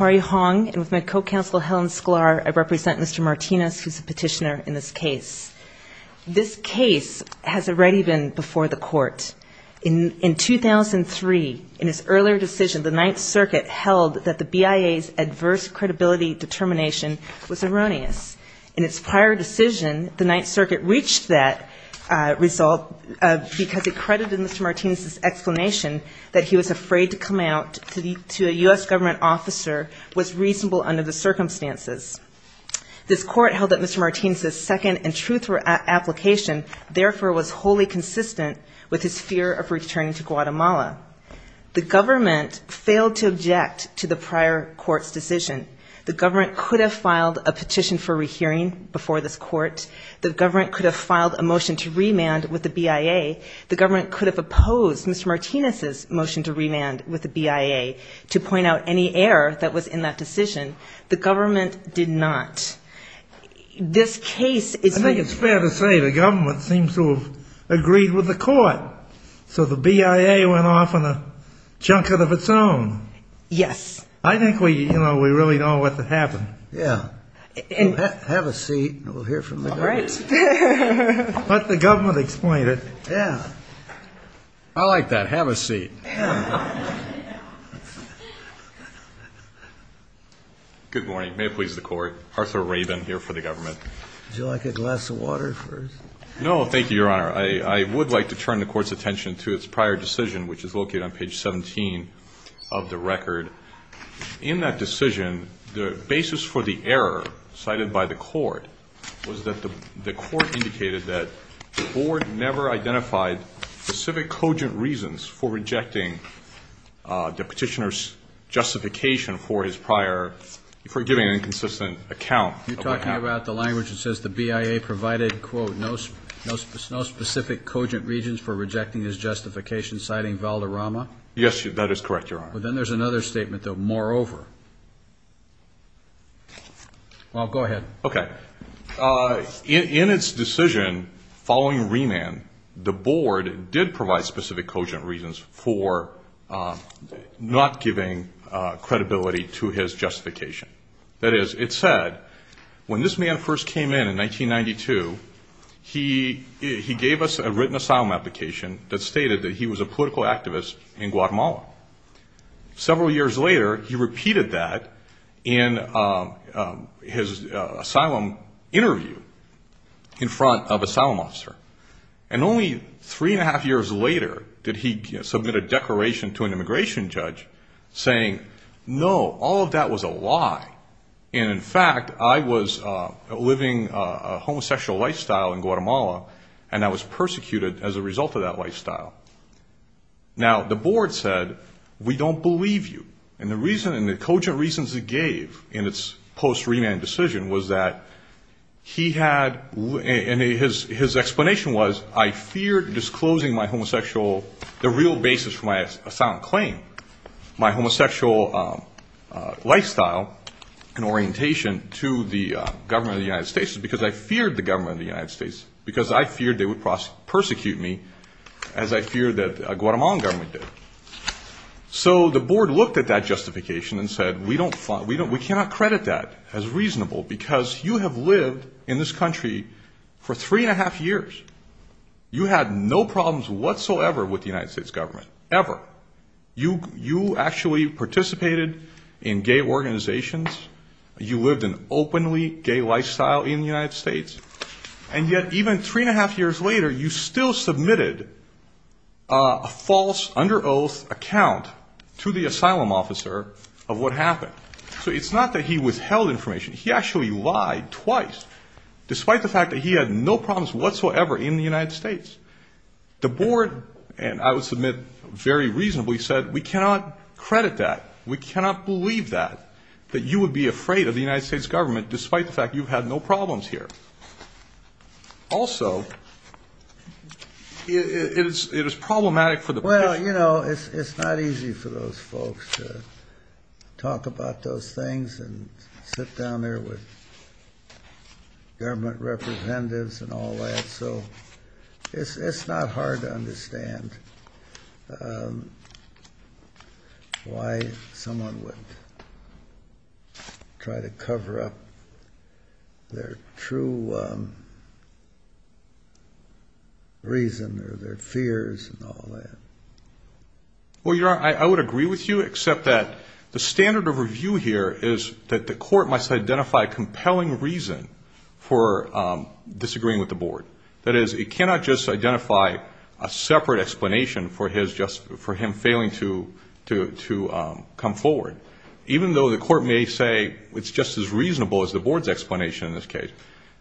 Marie Hong, and with my co-counsel Helen Sklar, I represent Mr. Martinez, who's the petitioner in this case. This case has already been before the court. In 2003, in his earlier decision, the Ninth Circuit held that the BIA's adverse credibility determination was erroneous. In its prior decision, the Ninth Circuit reached that result because it credited Mr. Martinez's under the circumstances. This court held that Mr. Martinez's second and truthful application therefore was wholly consistent with his fear of returning to Guatemala. The government failed to object to the prior court's decision. The government could have filed a petition for rehearing before this court. The government could have filed a motion to remand with the BIA. The government could have opposed Mr. Martinez's motion to remand with the BIA to point out any error that was in that decision. The government did not. This case is the... I think it's fair to say the government seems to have agreed with the court. So the BIA went off on a junket of its own. Yes. I think we, you know, we really don't know what to happen. Yeah. Have a seat and we'll hear from the government. All right. Let the government explain it. Yeah. I like that. Have a seat. Good morning. May it please the court. Arthur Rabin here for the government. Would you like a glass of water first? No, thank you, Your Honor. I would like to turn the court's attention to its prior decision, which is located on page 17 of the record. In that decision, the basis for the error cited by the court was that the court indicated that the board never identified specific cogent reasons for rejecting the petitioner's justification for his prior, for giving an inconsistent account. You're talking about the language that says the BIA provided, quote, no specific cogent reasons for rejecting his justification, citing Valderrama? Yes, that is correct, Your Honor. All right. But then there's another statement, though, moreover. Well, go ahead. Okay. In its decision following remand, the board did provide specific cogent reasons for not giving credibility to his justification. That is, it said, when this man first came in in 1992, he gave us a written asylum application that stated that he was a political activist in Guatemala. Several years later, he repeated that in his asylum interview in front of an asylum officer. And only three and a half years later did he submit a declaration to an immigration judge saying, no, all of that was a lie, and in fact, I was living a homosexual lifestyle in Guatemala. The board said, we don't believe you. And the cogent reasons it gave in its post-remand decision was that he had, and his explanation was, I feared disclosing my homosexual, the real basis for my asylum claim, my homosexual lifestyle and orientation to the government of the United States, because I feared the government of the United States, because I feared they would So the board looked at that justification and said, we cannot credit that as reasonable, because you have lived in this country for three and a half years. You had no problems whatsoever with the United States government, ever. You actually participated in gay organizations. You lived an openly gay lifestyle in a false, under oath account to the asylum officer of what happened. So it's not that he withheld information. He actually lied twice, despite the fact that he had no problems whatsoever in the United States. The board, and I would submit, very reasonably said, we cannot credit that. We cannot believe that that you would be afraid of the United States government, despite the fact you've had no problems here. Also, it is problematic for the... Well, you know, it's not easy for those folks to talk about those things and sit down there with government representatives and all that. So it's not hard to understand why someone would try to cover up their true reason or their fears and all that. Well, Your Honor, I would agree with you, except that the standard of review here is that the court must identify compelling reason for disagreeing with the board. That is, it cannot just identify a separate explanation for him failing to come forward, even though the court may say it's just as reasonable as the board.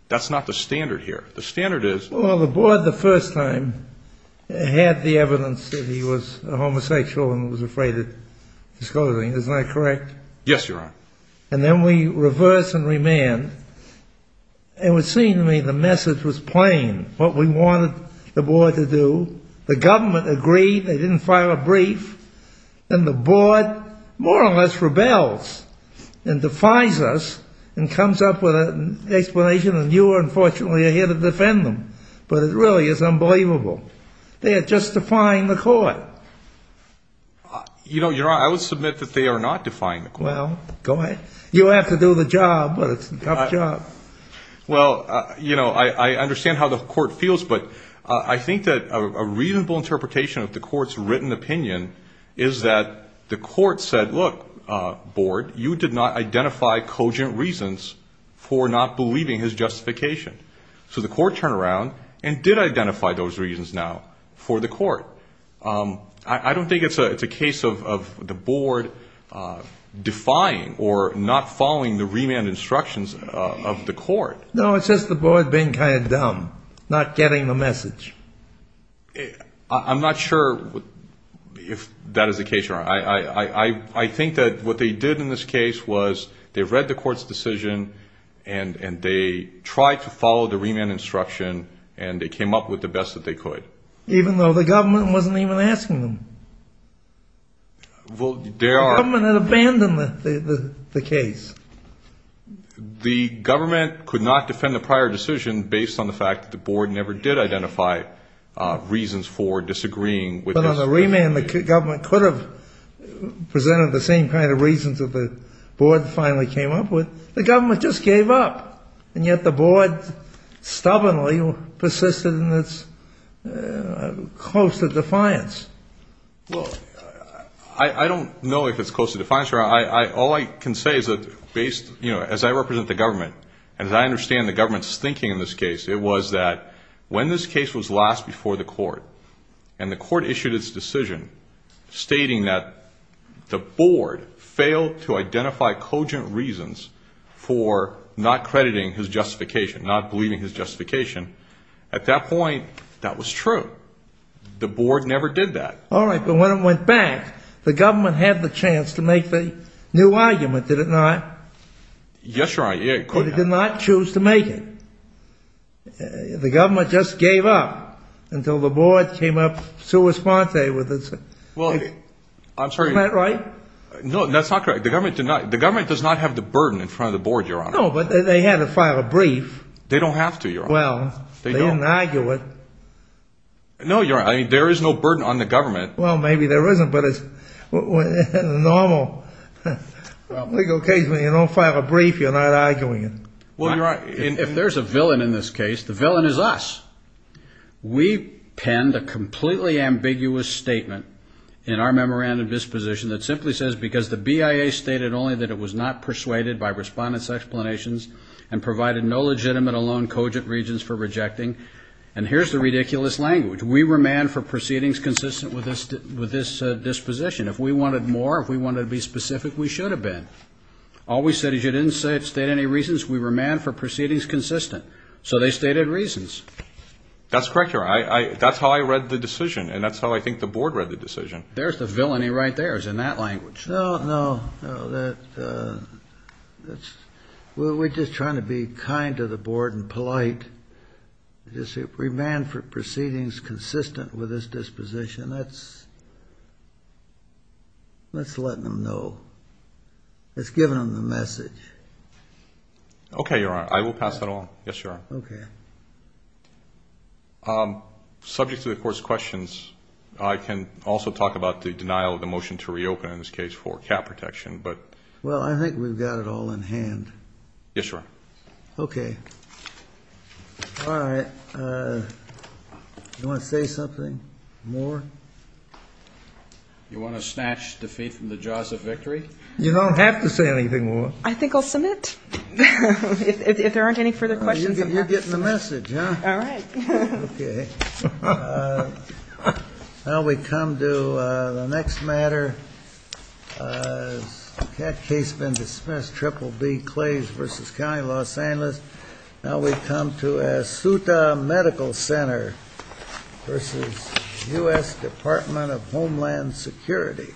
That's not the standard here. The standard is... Well, the board the first time had the evidence that he was a homosexual and was afraid of disclosing. Isn't that correct? Yes, Your Honor. And then we reverse and remand. It would seem to me the message was plain, what we wanted the board to do. The government agreed, they didn't file a brief, and the board more or less rebels and defies us and comes up with an explanation, and you, unfortunately, are here to defend them. But it really is unbelievable. They are justifying the court. You know, Your Honor, I would submit that they are not defying the court. Well, go ahead. You have to do the job, but it's a tough job. Well, you know, I understand how the court feels, but I think that a reasonable interpretation of the for not believing his justification. So the court turned around and did identify those reasons now for the court. I don't think it's a case of the board defying or not following the remand instructions of the court. No, it's just the board being kind of dumb, not getting the message. I'm not sure if that is the case, Your Honor. I think that what they did in this case was they read the court's decision and they tried to follow the remand instruction and they came up with the best that they could. Even though the government wasn't even asking them. Well, there are... The government had abandoned the case. The government could not defend the prior decision based on the fact that the board never did identify reasons for disagreeing. But on the remand, the government could have presented the same kind of reasons that the board finally came up with. The government just gave up, and yet the board stubbornly persisted in its close to defiance. Well, I don't know if it's close to defiance, Your Honor. All I can say is that as I represent the government and as I understand the government's thinking in this case, it was that when this case was last before the court and the court issued its decision stating that the board failed to identify cogent reasons for not crediting his justification, not believing his justification, at that point, that was true. The board never did that. All right. But when it went back, the government had the chance to make the new argument, did it not? Yes, Your Honor. Did it not choose to make it? The government just gave up until the board came up sua sponte with its... Well, I'm sorry. Isn't that right? No, that's not correct. The government does not have the burden in front of the board, Your Honor. No, but they had to file a brief. They don't have to, Your Honor. Well, they didn't argue it. No, Your Honor. There is no burden on the government. Well, maybe there isn't, but in a normal legal case, when you don't file a brief, you're not arguing it. Well, you're right. If there's a villain in this case, the villain is us. We penned a completely ambiguous statement in our memorandum disposition that simply says, because the BIA stated only that it was not persuaded by respondents' explanations and provided no legitimate alone cogent reasons for rejecting. And here's the ridiculous language. We were manned for proceedings consistent with this disposition. If we wanted more, if we wanted to be specific, we should have been. All we said is you didn't state any reasons. We were manned for proceedings consistent. So they stated reasons. That's correct, Your Honor. There's the villainy right there. It's in that language. No, no. We're just trying to be kind to the board and polite. We're manned for proceedings consistent with this disposition. That's letting them know. That's giving them the message. Okay, Your Honor. I will pass that along. Yes, Your Honor. Okay. Subject to the Court's questions, I can also talk about the denial of the motion to reopen in this case for cap protection. Well, I think we've got it all in hand. Yes, Your Honor. Okay. All right. You want to say something more? You want to snatch defeat from the jaws of victory? You don't have to say anything more. I think I'll submit. If there aren't any further questions. You're getting the message. All right. Okay. Now we come to the next matter. Has the case been discussed? Triple D, Clays v. County, Los Angeles. Now we come to Asuta Medical Center v. U.S. Department of Homeland Security.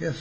Okay.